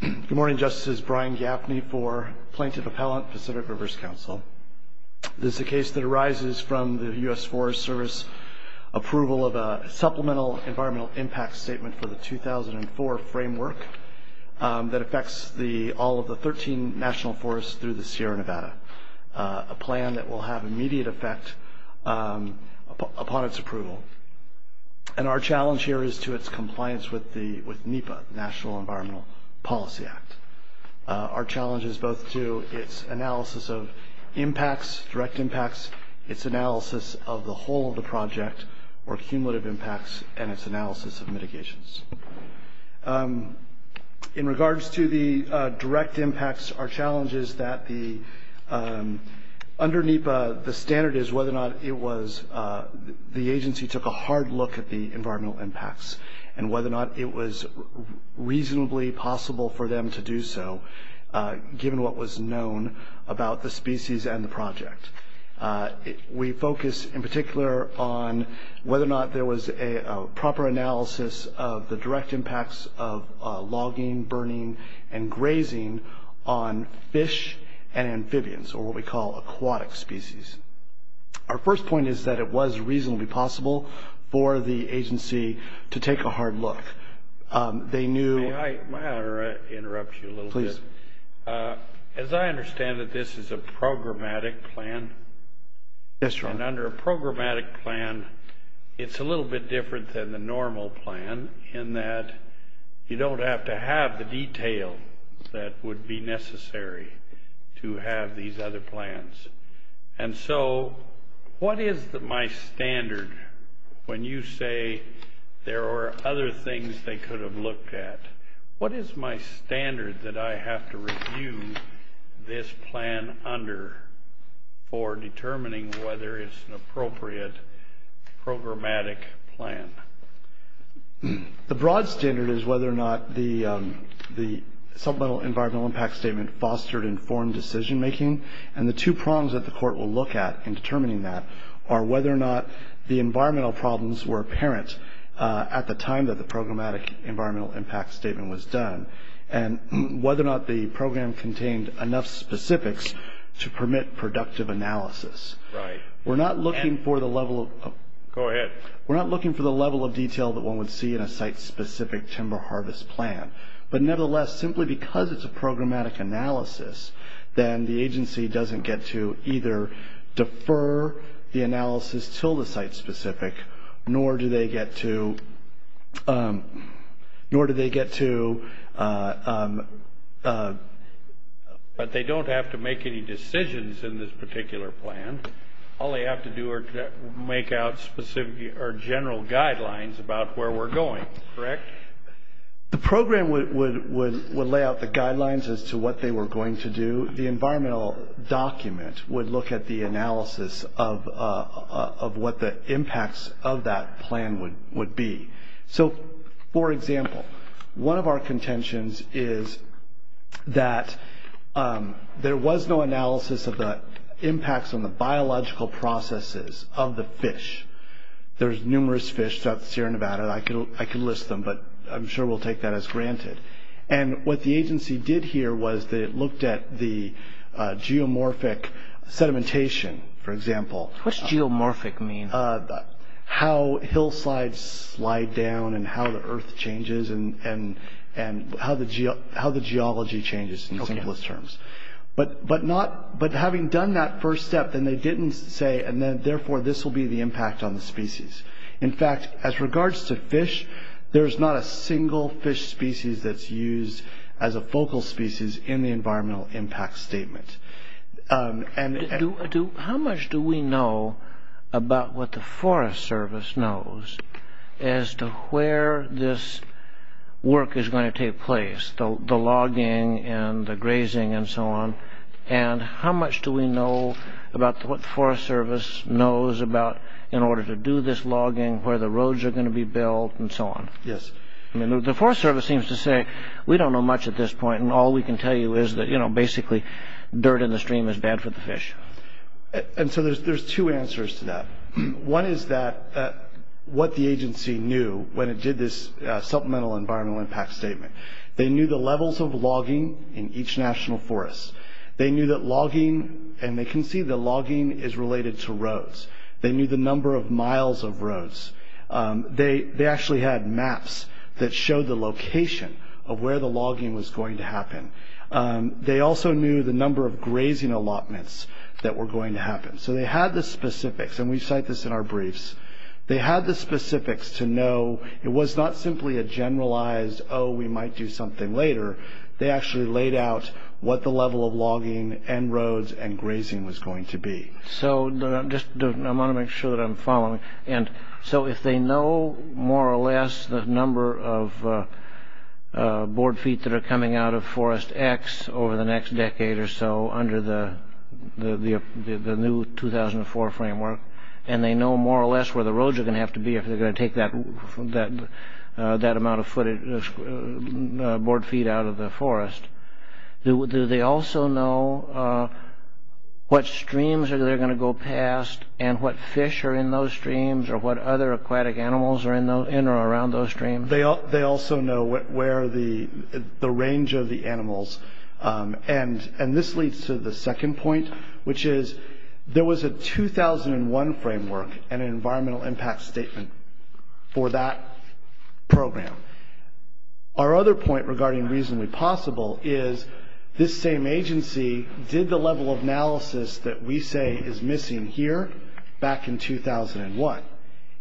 Good morning, Justices. Brian Gaffney for Plaintiff Appellant, Pacific Rivers Council. This is a case that arises from the US Forest Service approval of a supplemental environmental impact statement for the 2004 framework that affects all of the 13 national forests through the Sierra Nevada, a plan that will have immediate effect upon its approval. And our challenge here is to its compliance with NEPA, National Environmental Policy Act. Our challenge is both to its analysis of impacts, direct impacts, its analysis of the whole of the project, or cumulative impacts, and its analysis of mitigations. In regards to the direct impacts, our challenge is that under NEPA, the standard is whether or not it was the agency took a hard look at the environmental impacts and whether or not it was reasonably possible for them to do so, given what was known about the species and the project. We focus in particular on whether or not there was a proper analysis of the direct impacts of logging, burning, and grazing on fish and amphibians, or what we call aquatic species. Our first point is that it was reasonably possible for the agency to take a hard look. They knew- May I interrupt you a little bit? Please. As I understand it, this is a programmatic plan. Yes, Your Honor. And under a programmatic plan, it's a little bit different than the normal plan in that you don't have to have the detail that would be necessary to have these other plans. And so what is my standard when you say there are other things they could have looked at? What is my standard that I have to review this plan under for determining whether it's an appropriate programmatic plan? The broad standard is whether or not the supplemental environmental impact statement fostered informed decision-making, and the two prongs that the Court will look at in determining that are whether or not the environmental problems were apparent at the time that the programmatic environmental impact statement was done, and whether or not the program contained enough specifics to permit productive analysis. Right. We're not looking for the level of- Go ahead. We're not looking for the level of detail that one would see in a site-specific timber harvest plan. But nevertheless, simply because it's a programmatic analysis, then the agency doesn't get to either defer the analysis till the site-specific, nor do they get to- But they don't have to make any decisions in this particular plan. All they have to do is make out general guidelines about where we're going, correct? The program would lay out the guidelines as to what they were going to do. The environmental document would look at the analysis of what the impacts of that plan would be. So, for example, one of our contentions is that there was no analysis of the impacts on the biological processes of the fish. There's numerous fish throughout Sierra Nevada. I can list them, but I'm sure we'll take that as granted. And what the agency did here was that it looked at the geomorphic sedimentation, for example. What's geomorphic mean? How hillsides slide down, and how the earth changes, and how the geology changes, in simplest terms. But having done that first step, then they didn't say, therefore, this will be the impact on the species. In fact, as regards to fish, there's not a single fish species that's used as a focal species in the environmental impact statement. How much do we know about what the Forest Service knows as to where this work is going to take place? The logging, and the grazing, and so on. And how much do we know about what the Forest Service knows about, in order to do this logging, where the roads are going to be built, and so on? Yes. The Forest Service seems to say, we don't know much at this point. And all we can tell you is that, you know, basically, dirt in the stream is bad for the fish. And so there's two answers to that. One is that what the agency knew when it did this supplemental environmental impact statement. They knew the levels of logging in each national forest. They knew that logging, and they can see that logging is related to roads. They knew the number of miles of roads. They actually had maps that showed the location of where the logging was going to happen. They also knew the number of grazing allotments that were going to happen. So they had the specifics, and we cite this in our briefs. They had the specifics to know. It was not simply a generalized, oh, we might do something later. They actually laid out what the level of logging, and roads, and grazing was going to be. I want to make sure that I'm following. So if they know, more or less, the number of board feet that are coming out of Forest X over the next decade or so, under the new 2004 framework, and they know, more or less, where the roads are going to have to be if they're going to take that amount of board feet out of the forest, do they also know what streams they're going to go past and what fish are in those streams or what other aquatic animals are in or around those streams? They also know where the range of the animals. This leads to the second point, which is there was a 2001 framework and an environmental impact statement for that program. Our other point regarding reasonably possible is this same agency did the level of analysis that we say is missing here back in 2001.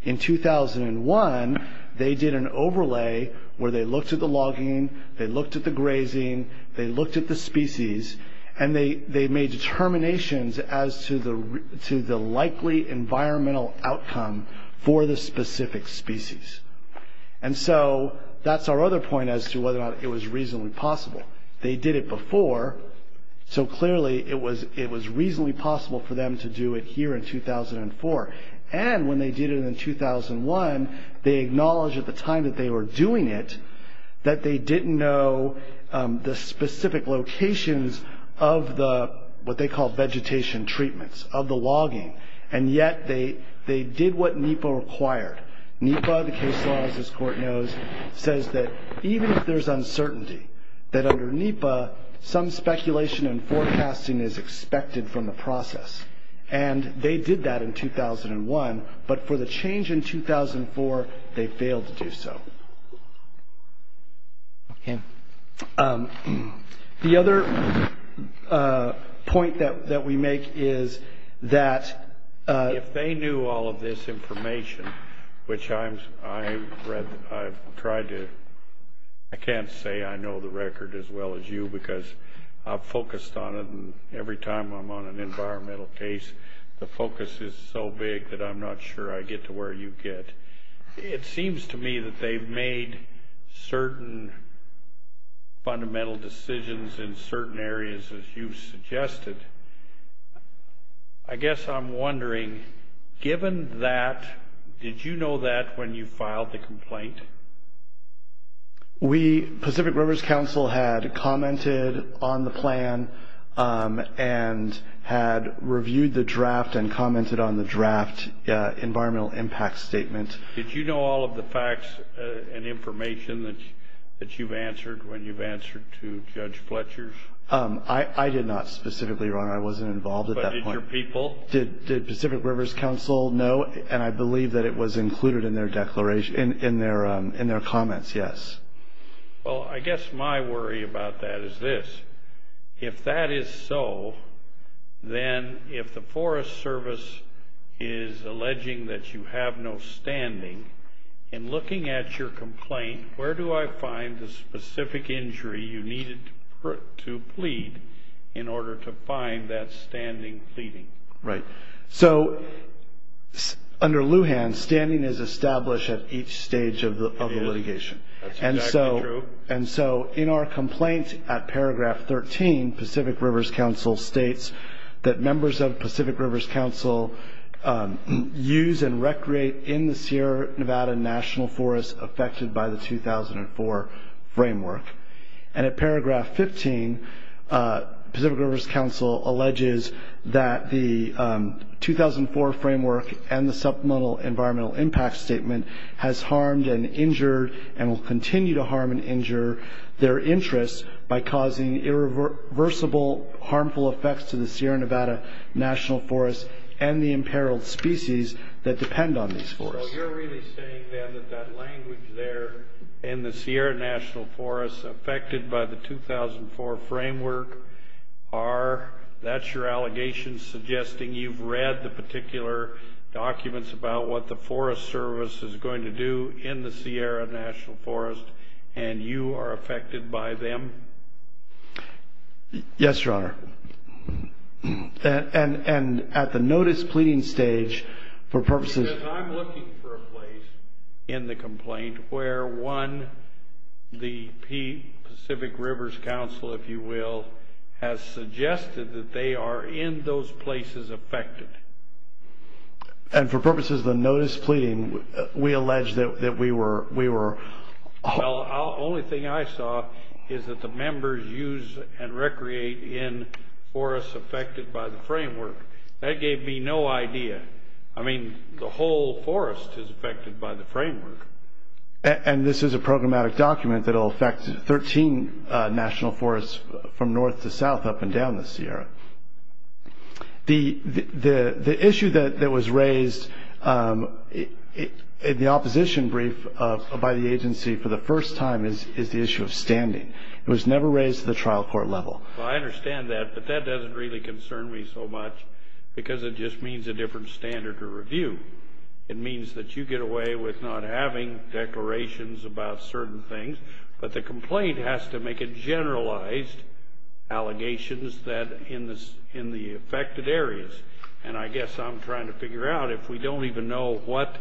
In 2001, they did an overlay where they looked at the logging, they looked at the grazing, they looked at the species, and they made determinations as to the likely environmental outcome for the specific species. That's our other point as to whether or not it was reasonably possible. They did it before, so clearly it was reasonably possible for them to do it here in 2004. When they did it in 2001, they acknowledged at the time that they were doing it that they didn't know the specific locations of what they call vegetation treatments, of the logging, and yet they did what NEPA required. NEPA, the case law, as this court knows, says that even if there's uncertainty, that under NEPA, some speculation and forecasting is expected from the process. They did that in 2001, but for the change in 2004, they failed to do so. The other point that we make is that- If they knew all of this information, which I tried to- I can't say I know the record as well as you because I'm focused on it, and every time I'm on an environmental case, the focus is so big that I'm not sure I get to where you get. It seems to me that they've made certain fundamental decisions in certain areas, as you suggested. I guess I'm wondering, given that, did you know that when you filed the complaint? Pacific Rivers Council had commented on the plan and had reviewed the draft and commented on the draft environmental impact statement. Did you know all of the facts and information that you've answered when you've answered to Judge Fletcher's? I did not specifically, Your Honor. I wasn't involved at that point. But did your people? Did Pacific Rivers Council know? And I believe that it was included in their comments, yes. Well, I guess my worry about that is this. If that is so, then if the Forest Service is alleging that you have no standing, in looking at your complaint, where do I find the specific injury you needed to plead in order to find that standing pleading? Right. So, under Lujan, standing is established at each stage of the litigation. That's exactly true. And so, in our complaint, at paragraph 13, Pacific Rivers Council states that members of Pacific Rivers Council use and recreate in the Sierra Nevada National Forest affected by the 2004 framework. And at paragraph 15, Pacific Rivers Council alleges that the 2004 framework and the supplemental environmental impact statement has harmed and injured and will continue to harm and injure their interests by causing irreversible harmful effects to the Sierra Nevada National Forest and the imperiled species that depend on these forests. So, you're really saying, then, that that language there, in the Sierra National Forest affected by the 2004 framework, that's your allegation suggesting you've read the particular documents about what the Forest Service is going to do in the Sierra National Forest and you are affected by them? Yes, Your Honor. And at the notice pleading stage, for purposes... Because I'm looking for a place in the complaint where, one, the Pacific Rivers Council, if you will, has suggested that they are in those places affected. And for purposes of the notice pleading, we allege that we were... Well, the only thing I saw is that the members use and recreate in forests affected by the framework. That gave me no idea. I mean, the whole forest is affected by the framework. And this is a programmatic document that will affect 13 national forests from north to south, up and down the Sierra. The issue that was raised in the opposition brief by the agency for the first time is the issue of standing. It was never raised at the trial court level. Well, I understand that, but that doesn't really concern me so much because it just means a different standard to review. It means that you get away with not having declarations about certain things, but the complaint has to make generalized allegations in the affected areas. And I guess I'm trying to figure out, if we don't even know what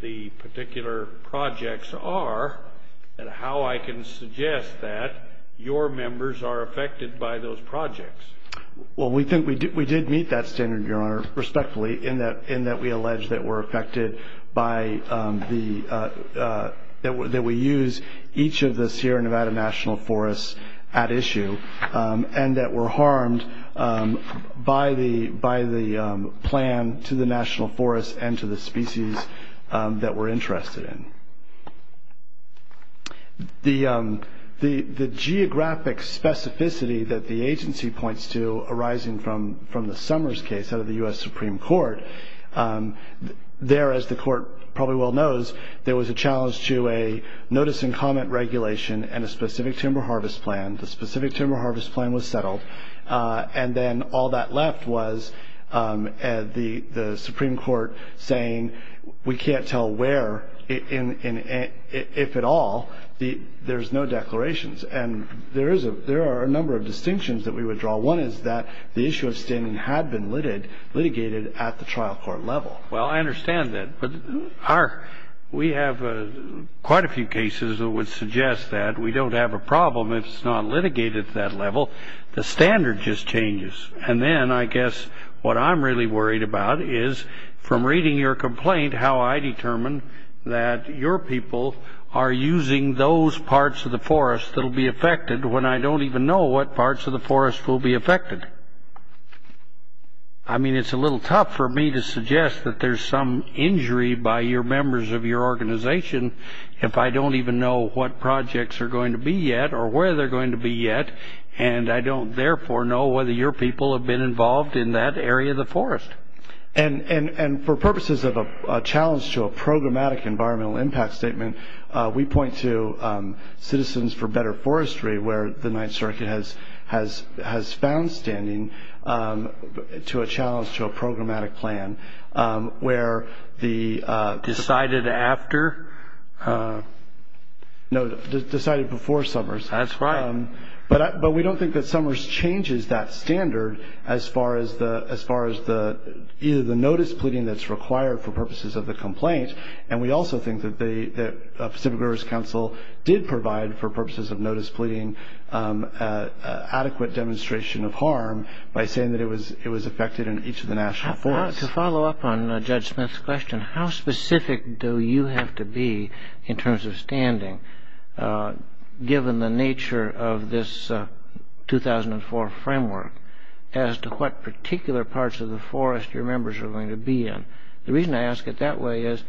the particular projects are, and how I can suggest that your members are affected by those projects. Well, we think we did meet that standard, Your Honor, respectfully, in that we allege that we're affected by the... that we use each of the Sierra Nevada National Forests at issue and that we're harmed by the plan to the national forests and to the species that we're interested in. The geographic specificity that the agency points to arising from the Summers case out of the U.S. Supreme Court, there, as the court probably well knows, there was a challenge to a notice and comment regulation and a specific timber harvest plan. The specific timber harvest plan was settled. And then all that left was the Supreme Court saying, we can't tell where, if at all, there's no declarations. And there are a number of distinctions that we withdraw. One is that the issue of standing had been litigated at the trial court level. Well, I understand that. But we have quite a few cases that would suggest that. We don't have a problem if it's not litigated at that level. The standard just changes. And then, I guess, what I'm really worried about is, from reading your complaint, how I determine that your people are using those parts of the forest that will be affected when I don't even know what parts of the forest will be affected. I mean, it's a little tough for me to suggest that there's some injury by your members of your organization if I don't even know what projects are going to be yet or where they're going to be yet. And I don't, therefore, know whether your people have been involved in that area of the forest. And for purposes of a challenge to a programmatic environmental impact statement, we point to Citizens for Better Forestry where the Ninth Circuit has found standing to a challenge to a programmatic plan where the- Decided after? No, decided before Summers. That's right. But we don't think that Summers changes that standard as far as either the notice pleading that's required for purposes of the complaint. And we also think that Pacific Rivers Council did provide, for purposes of notice pleading, adequate demonstration of harm by saying that it was affected in each of the national forests. To follow up on Judge Smith's question, how specific do you have to be in terms of standing, given the nature of this 2004 framework, as to what particular parts of the forest your members are going to be in? The reason I ask it that way is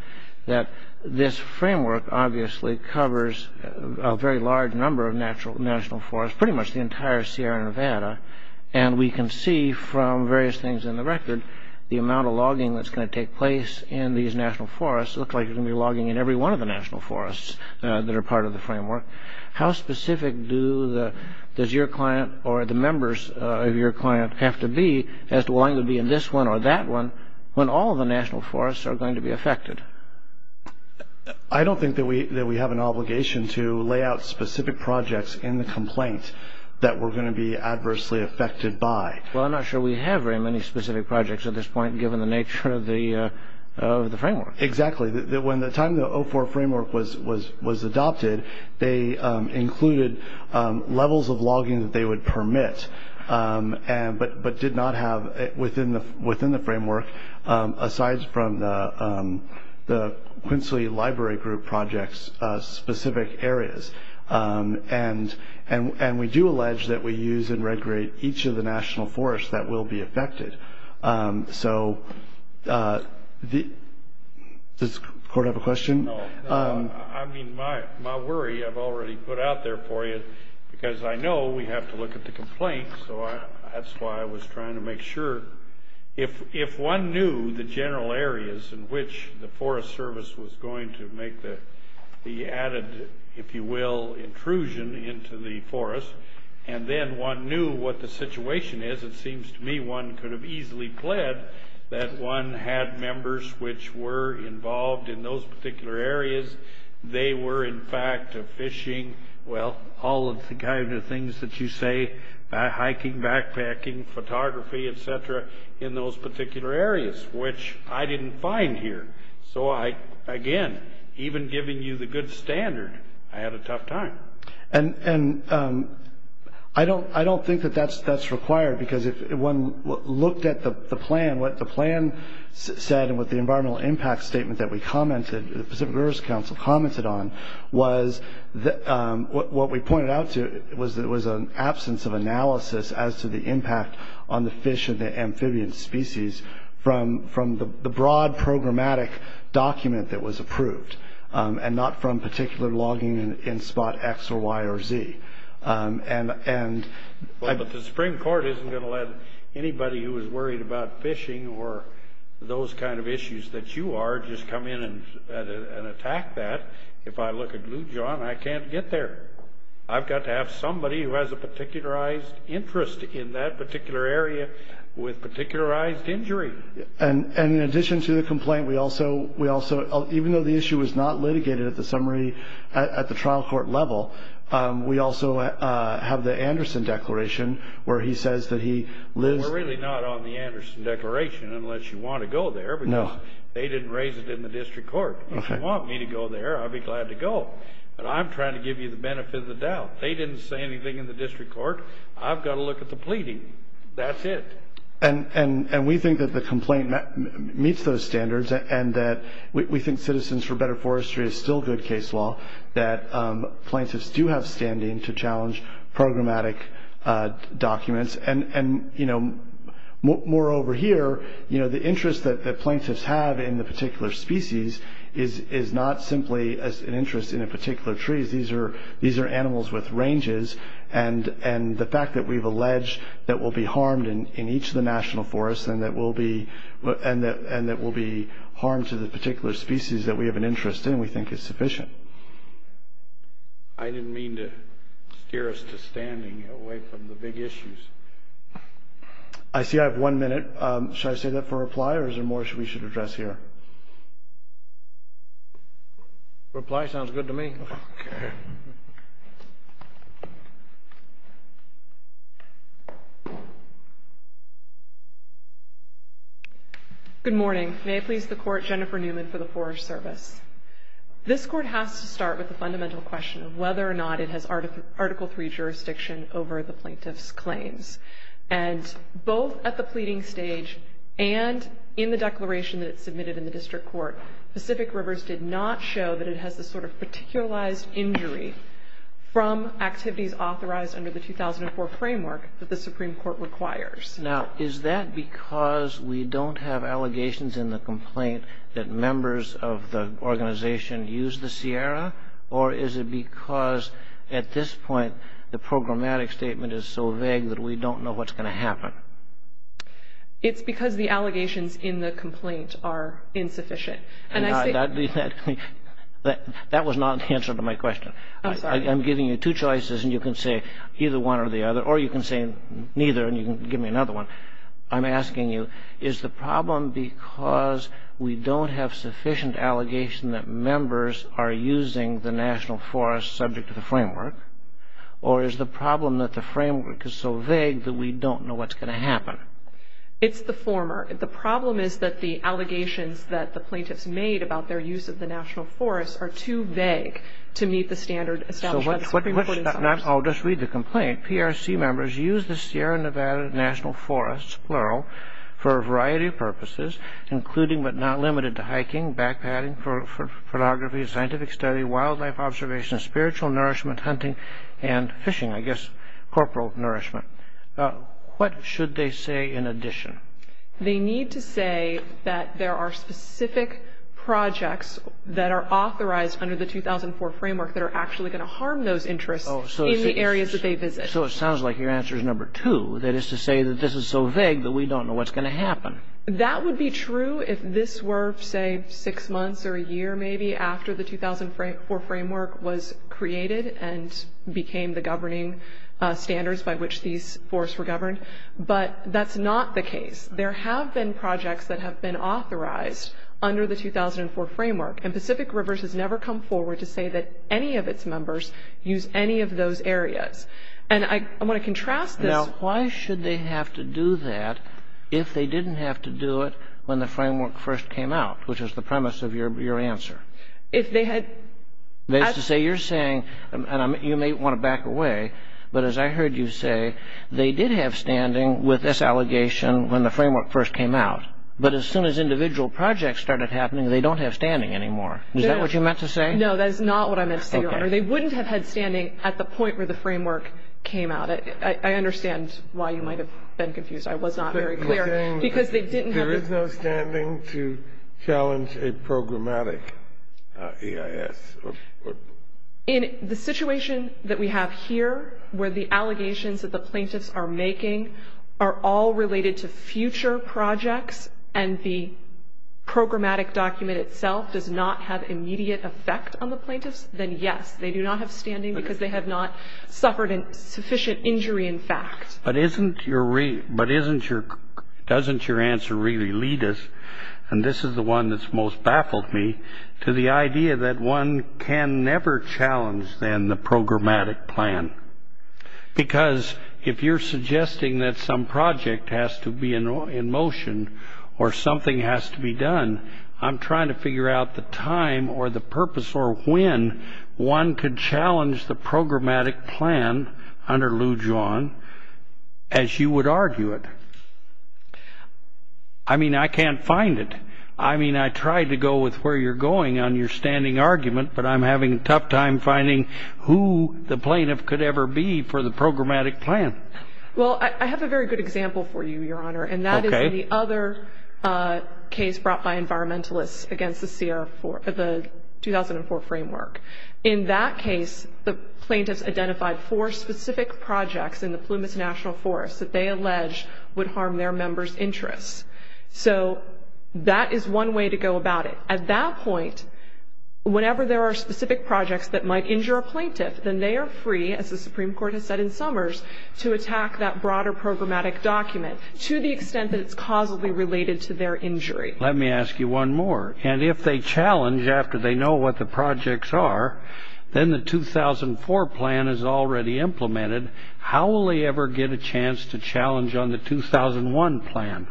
that this framework obviously covers a very large number of national forests, pretty much the entire Sierra Nevada, and we can see from various things in the record the amount of logging that's going to take place in these national forests. It looks like you're going to be logging in every one of the national forests that are part of the framework. How specific does your client or the members of your client have to be as to wanting to be in this one or that one when all the national forests are going to be affected? I don't think that we have an obligation to lay out specific projects in the complaint that we're going to be adversely affected by. Well, I'm not sure we have very many specific projects at this point, given the nature of the framework. Exactly. When the time the 2004 framework was adopted, they included levels of logging that they would permit, but did not have within the framework, aside from the Quinsley Library Group projects, specific areas. We do allege that we use and recreate each of the national forests that will be affected. Does the court have a question? I mean, my worry, I've already put out there for you, because I know we have to look at the complaint, so that's why I was trying to make sure. If one knew the general areas in which the Forest Service was going to make the added, if you will, intrusion into the forest, and then one knew what the situation is, it seems to me one could have easily pled that one had members which were involved in those particular areas. They were, in fact, fishing, well, all of the kind of things that you say, hiking, backpacking, photography, et cetera, in those particular areas, which I didn't find here. So I, again, even giving you the good standard, I had a tough time. And I don't think that that's required, because if one looked at the plan, and what the plan said and what the environmental impact statement that we commented, the Pacific Rivers Council commented on, was what we pointed out to, it was an absence of analysis as to the impact on the fish and the amphibian species from the broad programmatic document that was approved and not from particular logging in spot X or Y or Z. Well, but the Supreme Court isn't going to let anybody who is worried about fishing or those kind of issues that you are just come in and attack that. If I look at Lujan, I can't get there. I've got to have somebody who has a particularized interest in that particular area with particularized injury. And in addition to the complaint, we also, even though the issue was not litigated at the summary, at the trial court level, we also have the Anderson Declaration where he says that he lives... We're really not on the Anderson Declaration unless you want to go there, because they didn't raise it in the district court. If you want me to go there, I'd be glad to go. But I'm trying to give you the benefit of the doubt. They didn't say anything in the district court. I've got to look at the pleading. That's it. And we think that the complaint meets those standards and that we think Citizens for Better Forestry is still good case law, that plaintiffs do have standing to challenge programmatic documents. And moreover here, the interest that plaintiffs have in the particular species is not simply an interest in a particular tree. These are animals with ranges. And the fact that we've alleged that we'll be harmed in each of the national forests and that we'll be harmed to the particular species that we have an interest in we think is sufficient. I didn't mean to steer us to standing away from the big issues. I see I have one minute. Should I save that for reply or is there more we should address here? Reply sounds good to me. Good morning. May it please the Court, Jennifer Newman for the Forest Service. This Court has to start with the fundamental question of whether or not it has Article III jurisdiction over the plaintiff's claims. And both at the pleading stage and in the declaration that's submitted in the district court, Pacific Rivers did not show that it has this sort of particularized injury from activities authorized under the 2004 framework that the Supreme Court requires. Now, is that because we don't have allegations in the complaint that members of the organization use the Sierra or is it because at this point the programmatic statement is so vague that we don't know what's going to happen? It's because the allegations in the complaint are insufficient. That was not the answer to my question. I'm giving you two choices and you can say either one or the other or you can say neither and you can give me another one. I'm asking you is the problem because we don't have sufficient allegation that members are using the National Forest subject to the framework or is the problem that the framework is so vague that we don't know what's going to happen? It's the former. The problem is that the allegations that the plaintiffs made about their use of the National Forest are too vague to meet the standard established by the Supreme Court. I'll just read the complaint. PRC members use the Sierra Nevada National Forest, plural, for a variety of purposes, including but not limited to hiking, backpacking, photography, scientific study, wildlife observation, spiritual nourishment, hunting, and fishing, I guess corporal nourishment. What should they say in addition? They need to say that there are specific projects that are authorized under the 2004 framework that are actually going to harm those interests in the areas that they visit. So it sounds like your answer is number two, that is to say that this is so vague that we don't know what's going to happen. That would be true if this were, say, six months or a year maybe after the 2004 framework was created and became the governing standards by which these forests were governed, but that's not the case. There have been projects that have been authorized under the 2004 framework, and Pacific Rivers has never come forward to say that any of its members use any of those areas. And I want to contrast this. Why should they have to do that if they didn't have to do it when the framework first came out, which was the premise of your answer? If they had... That is to say you're saying, and you may want to back away, but as I heard you say, they did have standing with this allegation when the framework first came out, but as soon as individual projects started happening, they don't have standing anymore. Is that what you meant to say? No, that is not what I meant to say, Your Honor. They wouldn't have had standing at the point where the framework came out. I understand why you might have been confused. I was not very clear because they didn't have... You're saying there is no standing to challenge a programmatic EIS? In the situation that we have here where the allegations that the plaintiffs are making are all related to future projects and the programmatic document itself does not have immediate effect on the plaintiffs, then yes, they do not have standing because they have not suffered sufficient injury in fact. But doesn't your answer really lead us, and this is the one that's most baffled me, to the idea that one can never challenge then the programmatic plan because if you're suggesting that some project has to be in motion or something has to be done, I'm trying to figure out the time or the purpose or when one could challenge the programmatic plan under Lou John as you would argue it. I mean, I can't find it. I mean, I tried to go with where you're going on your standing argument, but I'm having a tough time finding who the plaintiff could ever be for the programmatic plan. Well, I have a very good example for you, Your Honor, and that is the other case brought by environmentalists against the 2004 framework. In that case, the plaintiffs identified four specific projects in the Plumas National Forest that they alleged would harm their members' interests. So that is one way to go about it. At that point, whenever there are specific projects that might injure a plaintiff, then they are free, as the Supreme Court has said in Summers, to attack that broader programmatic document to the extent that it's causally related to their injury. Let me ask you one more. And if they challenge after they know what the projects are, then the 2004 plan is already implemented. How will they ever get a chance to challenge on the 2001 plan?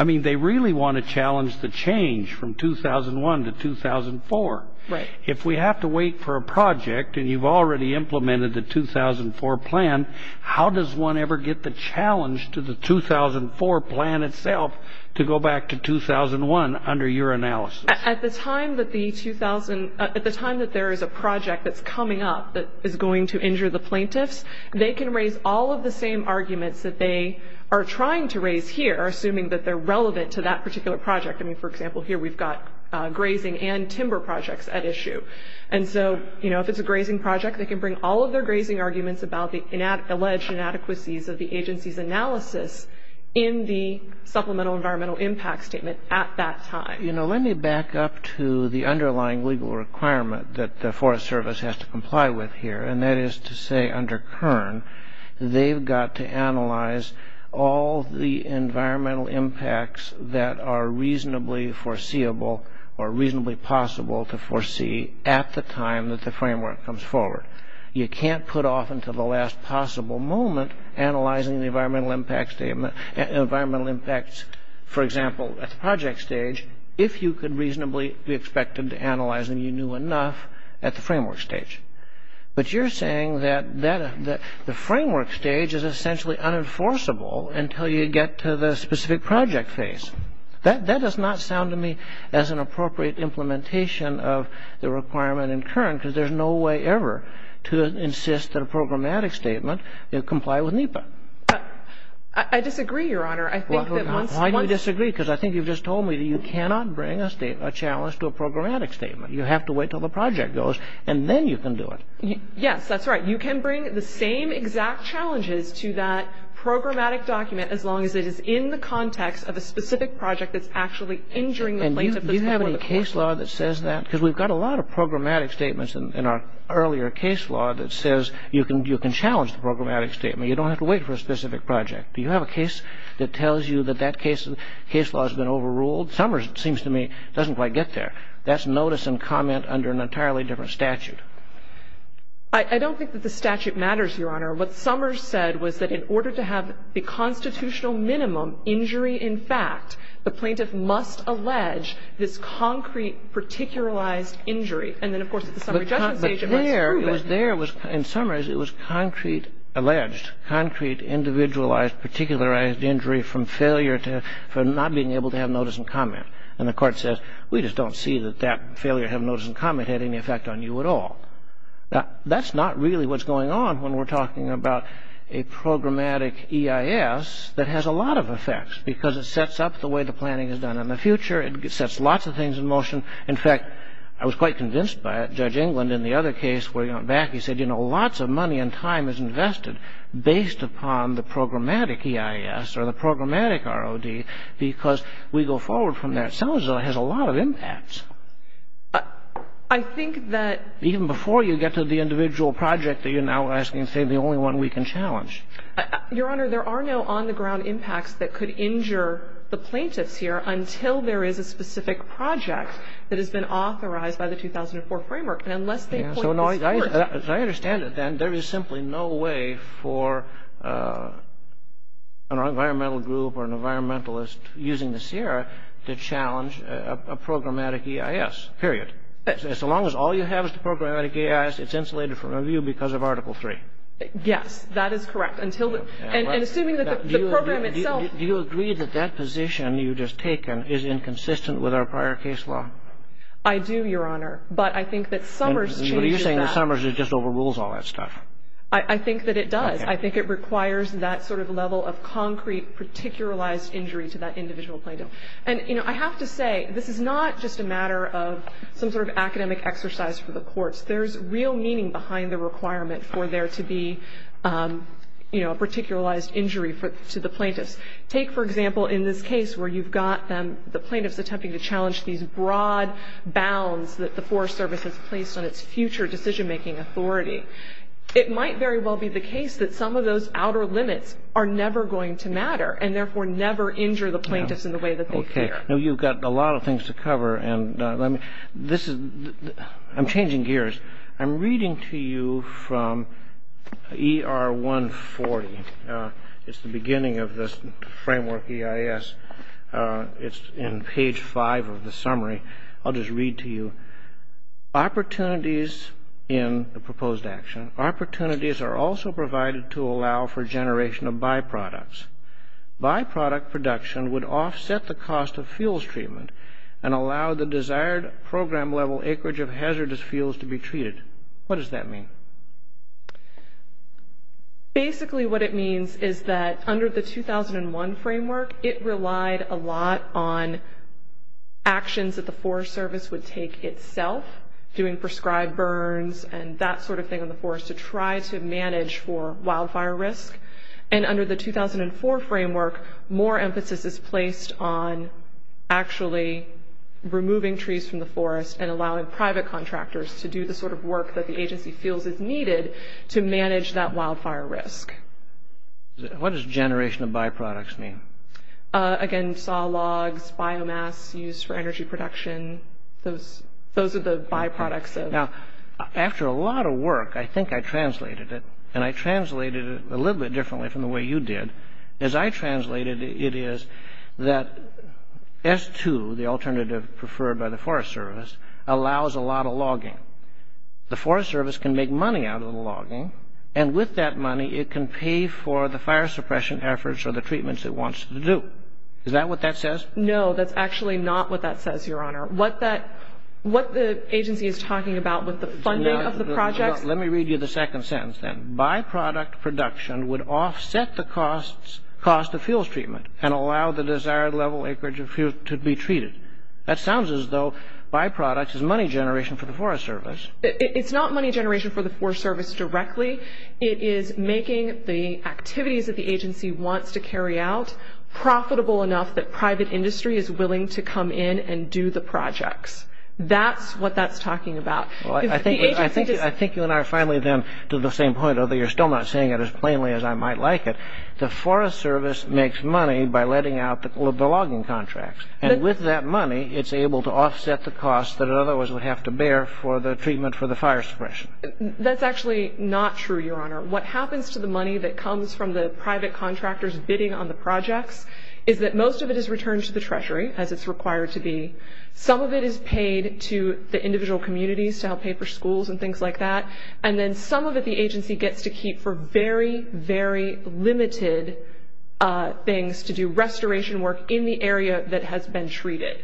I mean, they really want to challenge the change from 2001 to 2004. Right. If we have to wait for a project and you've already implemented the 2004 plan, how does one ever get the challenge to the 2004 plan itself to go back to 2001 under your analysis? At the time that there is a project that's coming up that is going to injure the plaintiffs, they can raise all of the same arguments that they are trying to raise here, assuming that they're relevant to that particular project. I mean, for example, here we've got grazing and timber projects at issue. And so if it's a grazing project, they can bring all of their grazing arguments about the alleged inadequacies of the agency's analysis in the Supplemental Environmental Impact Statement at that time. Let me back up to the underlying legal requirement that the Forest Service has to comply with here, and that is to say under Kern, they've got to analyze all the environmental impacts that are reasonably foreseeable or reasonably possible to foresee at the time that the framework comes forward. You can't put off until the last possible moment analyzing the environmental impacts, for example, at the project stage, if you could reasonably be expected to analyze and you knew enough at the framework stage. But you're saying that the framework stage is essentially unenforceable until you get to the specific project phase. That does not sound to me as an appropriate implementation of the requirement in Kern, because there's no way ever to insist that a programmatic statement comply with NEPA. I disagree, Your Honor. Why do you disagree? Because I think you've just told me that you cannot bring a challenge to a programmatic statement. You have to wait until the project goes, and then you can do it. Yes, that's right. You can bring the same exact challenges to that programmatic document as long as it is in the context of a specific project that's actually injuring the plaintiff. Do you have any case law that says that? Because we've got a lot of programmatic statements in our earlier case law that says you can challenge the programmatic statement. You don't have to wait for a specific project. Do you have a case that tells you that that case law has been overruled? Somers, it seems to me, doesn't quite get there. That's notice and comment under an entirely different statute. I don't think that the statute matters, Your Honor. What Somers said was that in order to have the constitutional minimum injury in fact, the plaintiff must allege this concrete, particularized injury. And then, of course, at the summary judgment stage, it must prove it. But there, it was there. In Somers, it was concrete alleged, concrete, individualized, particularized injury from failure to – from not being able to have notice and comment. And the court says, we just don't see that that failure to have notice and comment had any effect on you at all. That's not really what's going on when we're talking about a programmatic EIS that has a lot of effects because it sets up the way the planning is done in the future. It sets lots of things in motion. In fact, I was quite convinced by it. Judge England, in the other case where he went back, he said, you know, lots of money and time is invested based upon the programmatic EIS or the programmatic ROD because we go forward from there. Somers has a lot of impacts. I think that Even before you get to the individual project that you're now asking, say, the only one we can challenge. Your Honor, there are no on-the-ground impacts that could injure the plaintiffs here until there is a specific project that has been authorized by the 2004 framework. And unless they point to this court As I understand it, then, there is simply no way for an environmental group or an environmentalist using the CIRA to challenge a programmatic EIS, period. As long as all you have is the programmatic EIS, it's insulated from review because of Article III. Yes, that is correct. And assuming that the program itself Do you agree that that position you've just taken is inconsistent with our prior case law? I do, Your Honor. But I think that Somers changes that. I think that Somers just overrules all that stuff. I think that it does. I think it requires that sort of level of concrete, particularized injury to that individual plaintiff. And I have to say, this is not just a matter of some sort of academic exercise for the courts. There's real meaning behind the requirement for there to be a particularized injury to the plaintiffs. Take, for example, in this case where you've got the plaintiffs attempting to challenge these broad bounds that the Forest Service has placed on its future decision-making authority, it might very well be the case that some of those outer limits are never going to matter and therefore never injure the plaintiffs in the way that they care. Now, you've got a lot of things to cover. I'm changing gears. I'm reading to you from ER 140. It's the beginning of this framework EIS. It's in page 5 of the summary. I'll just read to you. Opportunities in the proposed action. Opportunities are also provided to allow for generation of byproducts. Byproduct production would offset the cost of fuels treatment and allow the desired program-level acreage of hazardous fuels to be treated. What does that mean? Basically what it means is that under the 2001 framework, it relied a lot on actions that the Forest Service would take itself, doing prescribed burns and that sort of thing in the forest to try to manage for wildfire risk. And under the 2004 framework, more emphasis is placed on actually removing trees from the forest and allowing private contractors to do the sort of work that the agency feels is needed to manage that wildfire risk. What does generation of byproducts mean? Again, saw logs, biomass used for energy production. Those are the byproducts. After a lot of work, I think I translated it, and I translated it a little bit differently from the way you did. As I translated it, it is that S2, the alternative preferred by the Forest Service, allows a lot of logging. The Forest Service can make money out of the logging, and with that money it can pay for the fire suppression efforts or the treatments it wants to do. Is that what that says? No, that's actually not what that says, Your Honor. What the agency is talking about with the funding of the projects... Let me read you the second sentence then. Byproduct production would offset the cost of fuels treatment and allow the desired level acreage of fuel to be treated. That sounds as though byproducts is money generation for the Forest Service. It's not money generation for the Forest Service directly. It is making the activities that the agency wants to carry out profitable enough that private industry is willing to come in and do the projects. That's what that's talking about. I think you and I are finally then to the same point, although you're still not saying it as plainly as I might like it. The Forest Service makes money by letting out the logging contracts, and with that money it's able to offset the cost that it otherwise would have to bear for the treatment for the fire suppression. That's actually not true, Your Honor. What happens to the money that comes from the private contractors bidding on the projects is that most of it is returned to the Treasury, as it's required to be. Some of it is paid to the individual communities to help pay for schools and things like that, and then some of it the agency gets to keep for very, very limited things to do restoration work in the area that has been treated.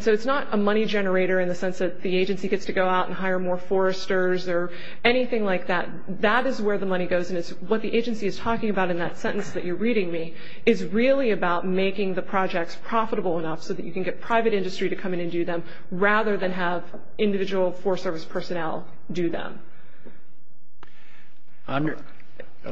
So it's not a money generator in the sense that the agency gets to go out and hire more foresters or anything like that. That is where the money goes, and what the agency is talking about in that sentence that you're reading me is really about making the projects profitable enough so that you can get private industry to come in and do them rather than have individual Forest Service personnel do them. The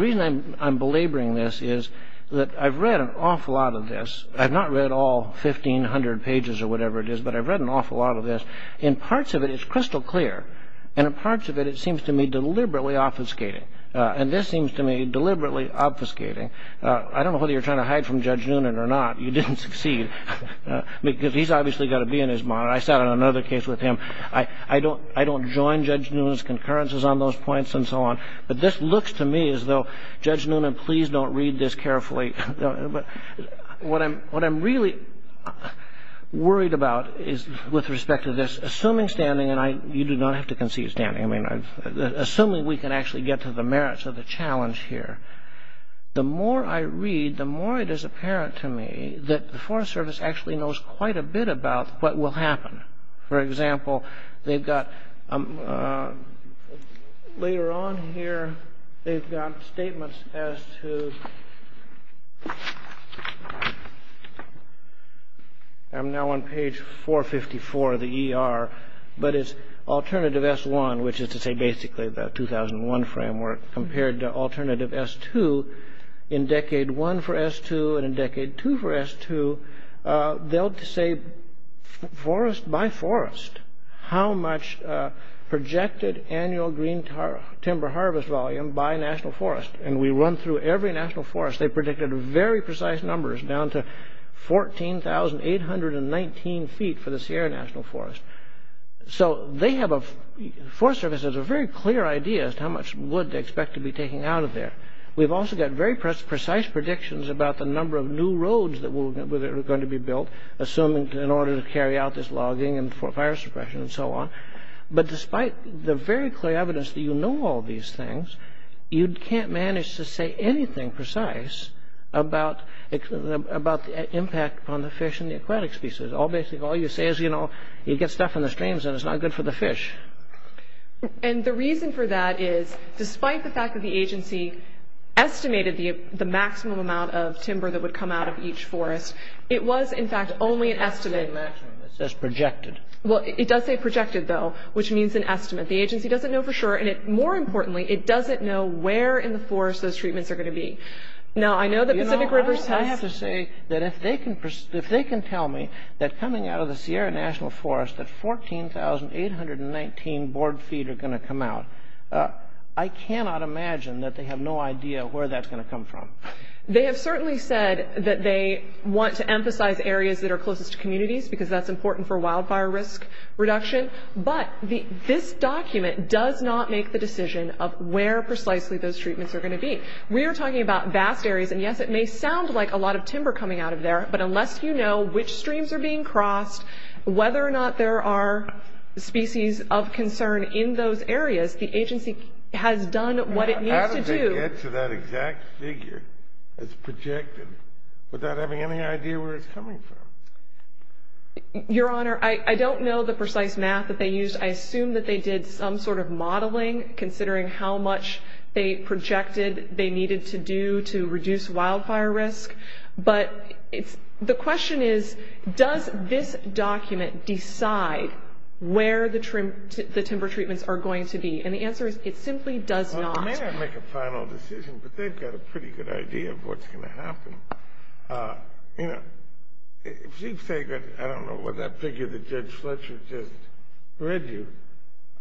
reason I'm belaboring this is that I've read an awful lot of this. I've not read all 1,500 pages or whatever it is, but I've read an awful lot of this. In parts of it, it's crystal clear, and in parts of it, it seems to me deliberately obfuscating, and this seems to me deliberately obfuscating. I don't know whether you're trying to hide from Judge Noonan or not. You didn't succeed, because he's obviously got to be in his monitor. I sat on another case with him. I don't join Judge Noonan's concurrences on those points and so on, but this looks to me as though, Judge Noonan, please don't read this carefully. What I'm really worried about is, with respect to this, assuming standing, and you do not have to concede standing, assuming we can actually get to the merits of the challenge here, the more I read, the more it is apparent to me that the Forest Service actually knows quite a bit about what will happen. For example, they've got, later on here, they've got statements as to, I'm now on page 454 of the ER, but it's Alternative S-1, which is to say basically the 2001 framework, compared to Alternative S-2. In Decade 1 for S-2, and in Decade 2 for S-2, they'll say, by forest, how much projected annual green timber harvest volume by national forest, and we run through every national forest. They predicted very precise numbers, down to 14,819 feet for the Sierra National Forest. So, the Forest Service has a very clear idea as to how much wood they expect to be taking out of there. We've also got very precise predictions about the number of new roads that are going to be built, assuming in order to carry out this logging and for fire suppression and so on. But despite the very clear evidence that you know all these things, you can't manage to say anything precise about the impact on the fish and the aquatic species. All you say is, you know, you get stuff in the streams and it's not good for the fish. And the reason for that is, despite the fact that the agency estimated the maximum amount of timber that would come out of each forest, it was, in fact, only an estimate. It doesn't say maximum, it says projected. Well, it does say projected, though, which means an estimate. The agency doesn't know for sure, and more importantly, it doesn't know where in the forest those treatments are going to be. Now, I know that Pacific Rivers has... You know, I have to say that if they can tell me that coming out of the Sierra National Forest, that 14,819 board feet are going to come out, I cannot imagine that they have no idea where that's going to come from. They have certainly said that they want to emphasize areas that are closest to communities, because that's important for wildfire risk reduction, but this document does not make the decision of where precisely those treatments are going to be. We are talking about vast areas, and yes, it may sound like a lot of timber coming out of there, but unless you know which streams are being crossed, whether or not there are species of concern in those areas, the agency has done what it needs to do... has projected without having any idea where it's coming from. Your Honor, I don't know the precise math that they used. I assume that they did some sort of modeling, considering how much they projected they needed to do to reduce wildfire risk, but the question is, does this document decide where the timber treatments are going to be? And the answer is, it simply does not. They may not make a final decision, but they've got a pretty good idea of what's going to happen. You know, if you say that, I don't know, that figure that Judge Fletcher just read you,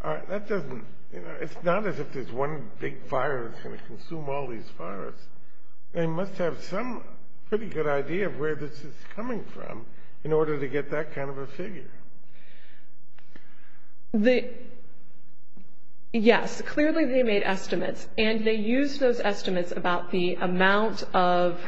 that doesn't... It's not as if there's one big fire that's going to consume all these fires. They must have some pretty good idea of where this is coming from in order to get that kind of a figure. The... Yes, clearly they made estimates, and they used those estimates about the amount of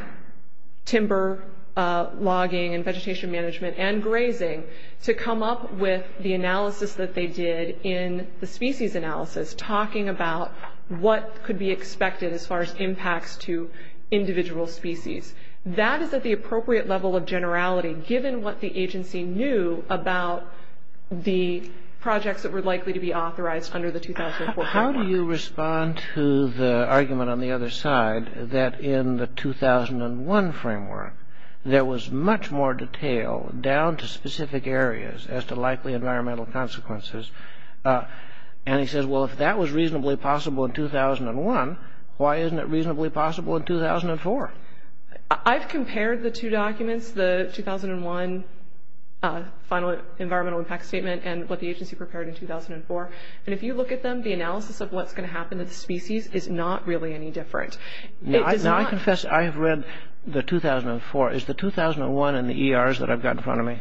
timber logging and vegetation management and grazing to come up with the analysis that they did in the species analysis, talking about what could be expected as far as impacts to individual species. That is at the appropriate level of generality, given what the agency knew about the projects that were likely to be authorized under the 2004 framework. How do you respond to the argument on the other side that in the 2001 framework, there was much more detail down to specific areas as to likely environmental consequences? And he says, well, if that was reasonably possible in 2001, why isn't it reasonably possible in 2004? I've compared the two documents, the 2001 final environmental impact statement and what the agency prepared in 2004, and if you look at them, the analysis of what's going to happen to the species is not really any different. Now I confess I have read the 2004. Is the 2001 in the ERs that I've got in front of me?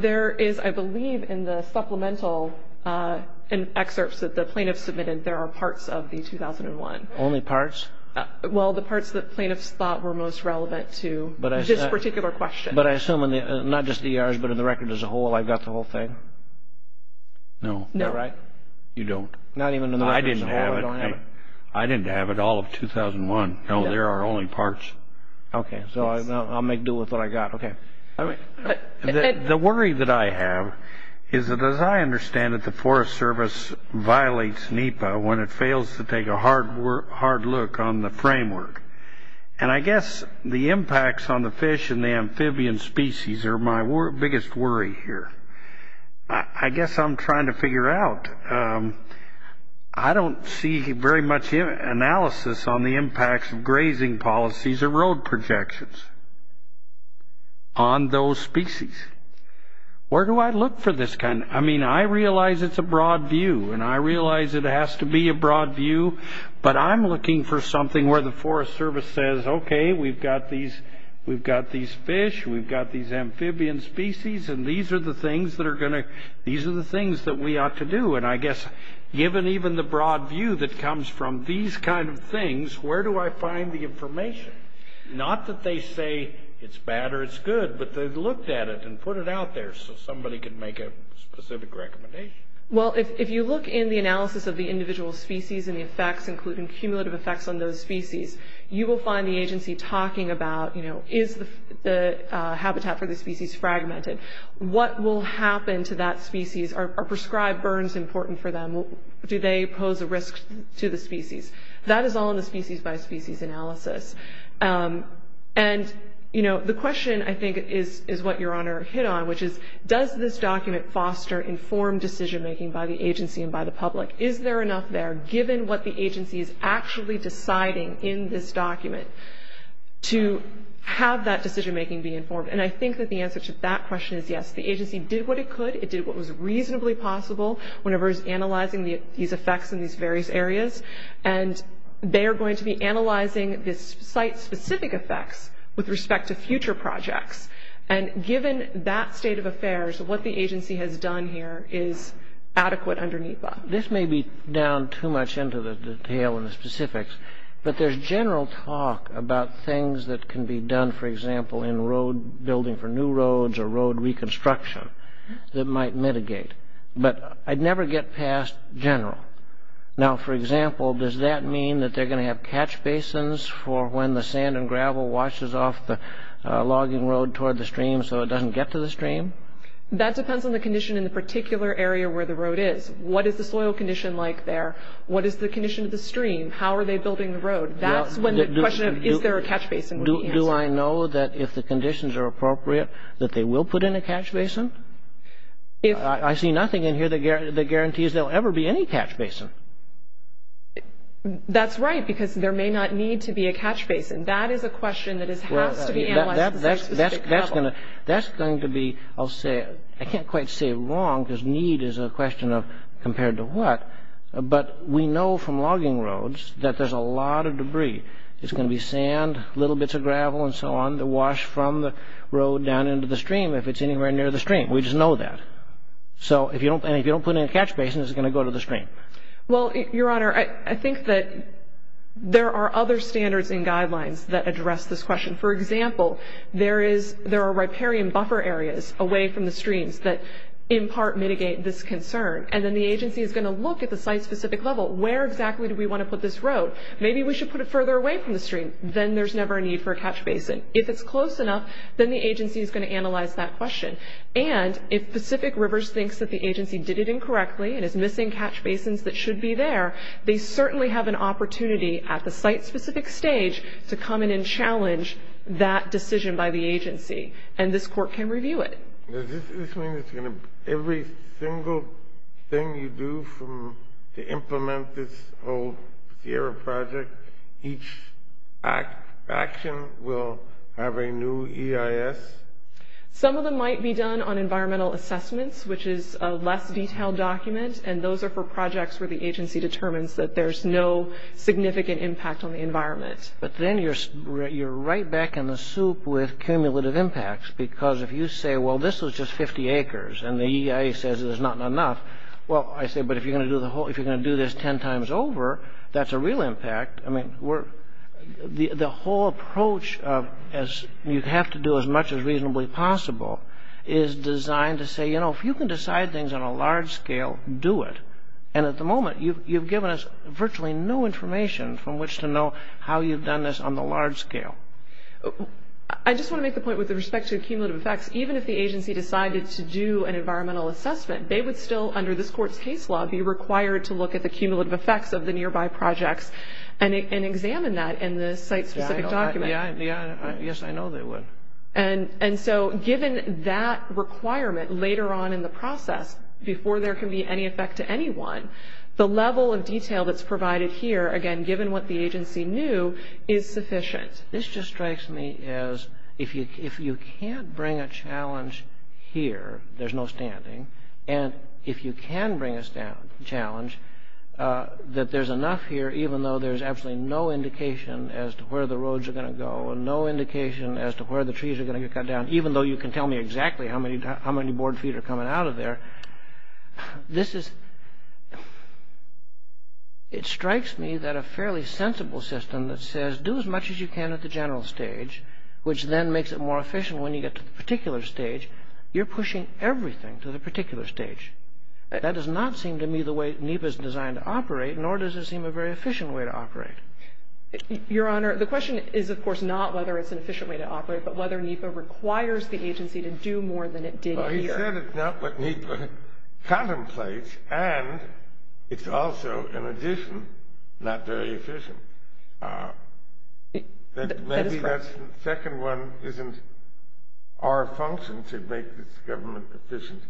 There is, I believe, in the supplemental, in excerpts that the plaintiffs submitted, there are parts of the 2001. Only parts? Well, the parts that plaintiffs thought were most relevant to this particular question. But I assume not just the ERs, but in the record as a whole, I've got the whole thing? No. No, right? You don't. Not even in the record as a whole, I don't have it. I didn't have it, all of 2001. No, there are only parts. Okay, so I'll make do with what I've got, okay. The worry that I have is that as I understand it, the Forest Service violates NEPA when it fails to take a hard look on the framework. And I guess the impacts on the fish and the amphibian species are my biggest worry here. I guess I'm trying to figure out. I don't see very much analysis on the impacts of grazing policies or road projections on those species. Where do I look for this kind? I mean, I realize it's a broad view, and I realize it has to be a broad view, but I'm looking for something where the Forest Service says, okay, we've got these fish, we've got these amphibian species, and these are the things that we ought to do. And I guess given even the broad view that comes from these kind of things, where do I find the information? Not that they say it's bad or it's good, but they've looked at it and put it out there so somebody can make a specific recommendation. Well, if you look in the analysis of the individual species and the effects, including cumulative effects on those species, you will find the agency talking about, you know, is the habitat for the species fragmented? What will happen to that species? Are prescribed burns important for them? Do they pose a risk to the species? That is all in the species-by-species analysis. And, you know, the question, I think, is what Your Honor hit on, which is does this document foster informed decision-making by the agency and by the public? Is there enough there, given what the agency is actually deciding in this document, to have that decision-making be informed? And I think that the answer to that question is yes. The agency did what it could. It did what was reasonably possible whenever it was analyzing these effects in these various areas. And they are going to be analyzing this site-specific effects with respect to future projects. And given that state of affairs, what the agency has done here is adequate underneath that. This may be down too much into the detail and the specifics, but there's general talk about things that can be done, for example, in road building for new roads or road reconstruction that might mitigate. But I'd never get past general. Now, for example, does that mean that they're going to have catch basins for when the sand and gravel washes off the logging road toward the stream so it doesn't get to the stream? That depends on the condition in the particular area where the road is. What is the soil condition like there? What is the condition of the stream? How are they building the road? That's when the question of is there a catch basin would be answered. Do I know that if the conditions are appropriate, that they will put in a catch basin? I see nothing in here that guarantees there will ever be any catch basin. That's right, because there may not need to be a catch basin. That is a question that has to be analyzed. That's going to be, I'll say, I can't quite say wrong, because need is a question of compared to what, but we know from logging roads that there's a lot of debris. It's going to be sand, little bits of gravel and so on that wash from the road down into the stream if it's anywhere near the stream. We just know that. If you don't put in a catch basin, is it going to go to the stream? Your Honor, I think that there are other standards and guidelines that address this question. For example, there are riparian buffer areas away from the streams that in part mitigate this concern. Then the agency is going to look at the site-specific level. Where exactly do we want to put this road? Maybe we should put it further away from the stream. Then there's never a need for a catch basin. If it's close enough, then the agency is going to analyze that question. If Pacific Rivers thinks that the agency did it incorrectly and is missing catch basins that should be there, they certainly have an opportunity at the site-specific stage to come in and challenge that decision by the agency. This court can review it. Does this mean that every single thing you do to implement this whole Sierra project, each action will have a new EIS? Some of them might be done on environmental assessments, which is a less detailed document, and those are for projects where the agency determines that there's no significant impact on the environment. But then you're right back in the soup with cumulative impacts because if you say, well, this was just 50 acres, and the EIS says there's not enough, well, I say, but if you're going to do this 10 times over, that's a real impact. I mean, the whole approach is you have to do as much as reasonably possible is designed to say, you know, if you can decide things on a large scale, do it. And at the moment, you've given us virtually no information from which to know how you've done this on the large scale. I just want to make the point with respect to cumulative effects, even if the agency decided to do an environmental assessment, they would still, under this court's case law, be required to look at the cumulative effects of the nearby projects and examine that in the site-specific document. Yes, I know they would. And so given that requirement later on in the process, before there can be any effect to anyone, the level of detail that's provided here, again, given what the agency knew, is sufficient. This just strikes me as if you can't bring a challenge here, there's no standing, and if you can bring a challenge, that there's enough here, even though there's absolutely no indication as to where the roads are going to go and no indication as to where the trees are going to get cut down, even though you can tell me exactly how many board feet are coming out of there. This is... It strikes me that a fairly sensible system that says, do as much as you can at the general stage, which then makes it more efficient when you get to the particular stage, you're pushing everything to the particular stage. That does not seem to me the way NEPA is designed to operate, nor does it seem a very efficient way to operate. Your Honor, the question is, of course, not whether it's an efficient way to operate, but whether NEPA requires the agency to do more than it did here. Well, you said it's not what NEPA contemplates, and it's also, in addition, not very efficient. That is correct. Maybe that second one isn't our function to make this government efficient,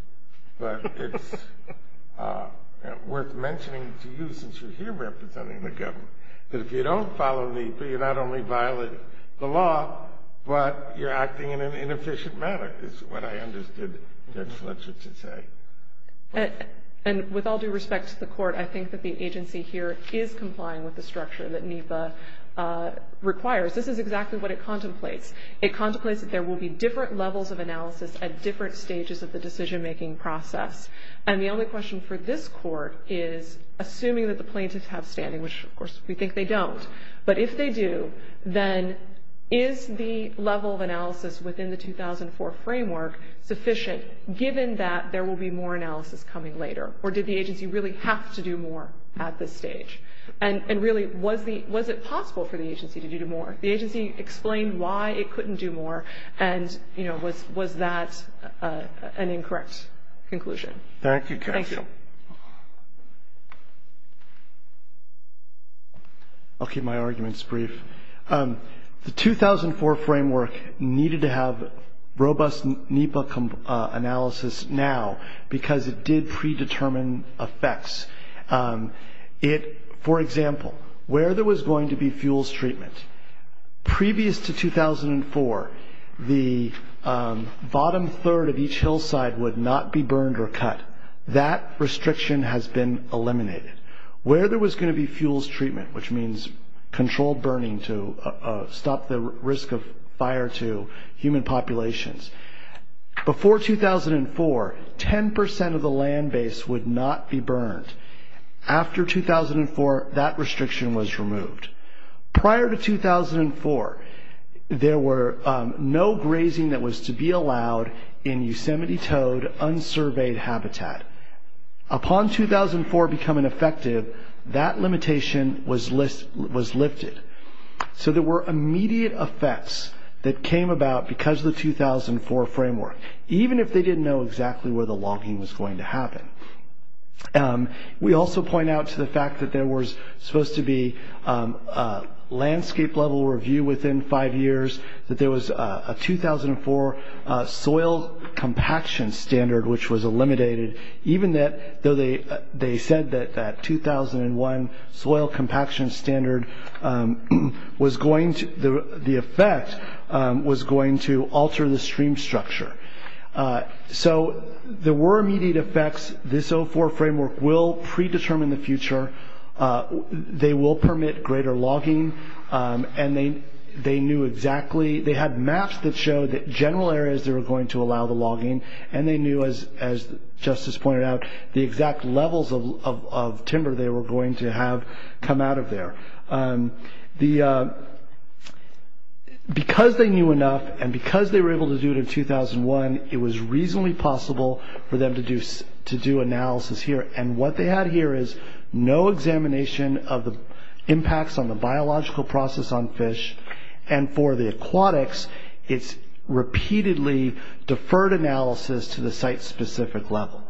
but it's worth mentioning to you, since you're here representing the government, that if you don't follow NEPA, you not only violate the law, but you're acting in an inefficient manner, is what I understood Judge Fletcher to say. And with all due respect to the Court, I think that the agency here is complying with the structure that NEPA requires. This is exactly what it contemplates. It contemplates that there will be different levels of analysis at different stages of the decision-making process, and the only question for this Court is, assuming that the plaintiffs have standing, which, of course, we think they don't, but if they do, then is the level of analysis within the 2004 framework sufficient, given that there will be more analysis coming later? Or did the agency really have to do more at this stage? And really, was it possible for the agency to do more? The agency explained why it couldn't do more, and, you know, was that an incorrect conclusion? Thank you. Thank you. I'll keep my arguments brief. The 2004 framework needed to have robust NEPA analysis now because it did predetermine effects. For example, where there was going to be fuels treatment, previous to 2004, the bottom third of each hillside would not be burned or cut. That restriction has been eliminated. Where there was going to be fuels treatment, which means controlled burning to stop the risk of fire to human populations, before 2004, 10% of the land base would not be burned. After 2004, that restriction was removed. Prior to 2004, there were no grazing that was to be allowed in Yosemite Toad unsurveyed habitat. Upon 2004 becoming effective, that limitation was lifted. So there were immediate effects that came about because of the 2004 framework, even if they didn't know exactly where the logging was going to happen. We also point out to the fact that there was supposed to be a landscape-level review within five years, that there was a 2004 soil compaction standard which was eliminated, even though they said that that 2001 soil compaction standard was going to, the effect was going to alter the stream structure. So there were immediate effects. This 04 framework will predetermine the future. They will permit greater logging, and they knew exactly, they had maps that showed that general areas that were going to allow the logging, and they knew, as Justice pointed out, the exact levels of timber they were going to have come out of there. Because they knew enough, and because they were able to do it in 2001, it was reasonably possible for them to do analysis here, and what they had here is no examination of the impacts on the biological process on fish, and for the aquatics, it's repeatedly deferred analysis to the site-specific level.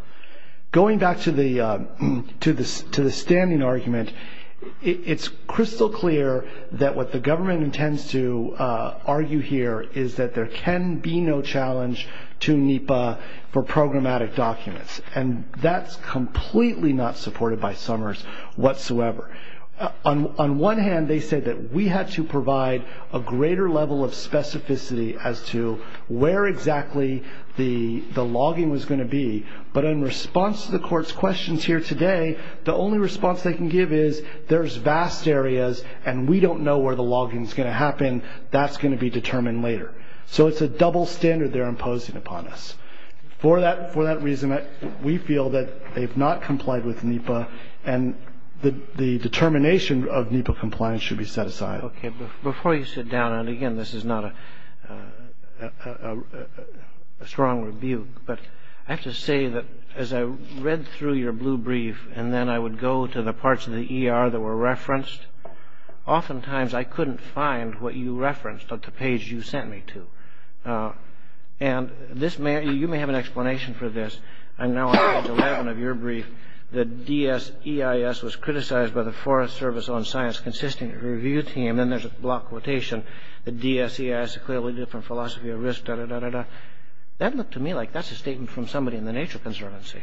Going back to the standing argument, it's crystal clear that what the government intends to argue here is that there can be no challenge to NEPA for programmatic documents, and that's completely not supported by Summers whatsoever. On one hand, they said that we had to provide a greater level of specificity as to where exactly the logging was going to be, but in response to the court's questions here today, the only response they can give is there's vast areas, and we don't know where the logging's going to happen. That's going to be determined later. So it's a double standard they're imposing upon us. For that reason, we feel that they've not complied with NEPA, and the determination of NEPA compliance should be set aside. Okay. Before you sit down, and again, this is not a strong rebuke, but I have to say that as I read through your blue brief and then I would go to the parts of the ER that were referenced, oftentimes I couldn't find what you referenced on the page you sent me to, and you may have an explanation for this. I'm now on page 11 of your brief. The DSEIS was criticized by the Forest Service on Science Consisting Review Team. Then there's a block quotation. The DSEIS is clearly a different philosophy of risk, da-da-da-da-da. That looked to me like that's a statement from somebody in the Nature Conservancy.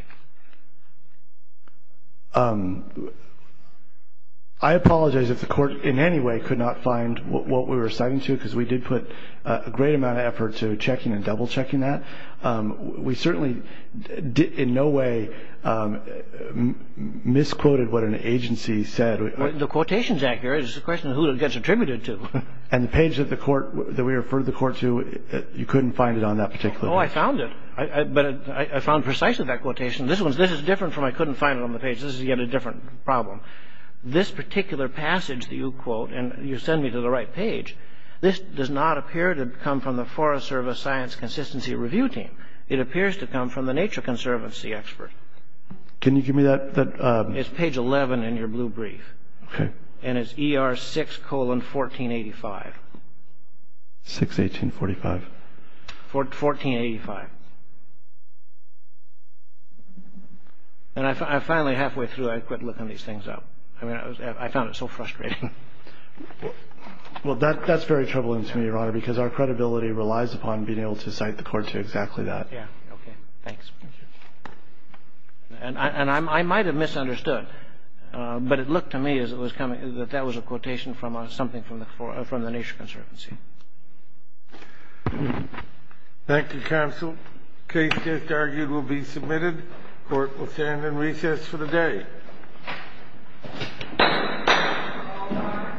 I apologize if the court in any way could not find what we were citing to because we did put a great amount of effort to checking and double-checking that. We certainly in no way misquoted what an agency said. The quotation's accurate. It's just a question of who it gets attributed to. And the page that we referred the court to, you couldn't find it on that particular page. Oh, I found it, but I found precisely that quotation. This is different from I couldn't find it on the page. This is, again, a different problem. This particular passage that you quote, and you send me to the right page, this does not appear to come from the Forest Service Science Consistency Review Team. It appears to come from the Nature Conservancy expert. Can you give me that? It's page 11 in your blue brief. Okay. And it's ER6 colon 1485. 6-18-45. 1485. And finally, halfway through, I quit looking these things up. I found it so frustrating. Well, that's very troubling to me, Your Honor, because our credibility relies upon being able to cite the court to exactly that. Yeah. Okay. Thanks. And I might have misunderstood, but it looked to me as it was coming, that that was a quotation from something from the Nature Conservancy. Thank you, counsel. Case just argued will be submitted. Court will stand in recess for the day. Thank you.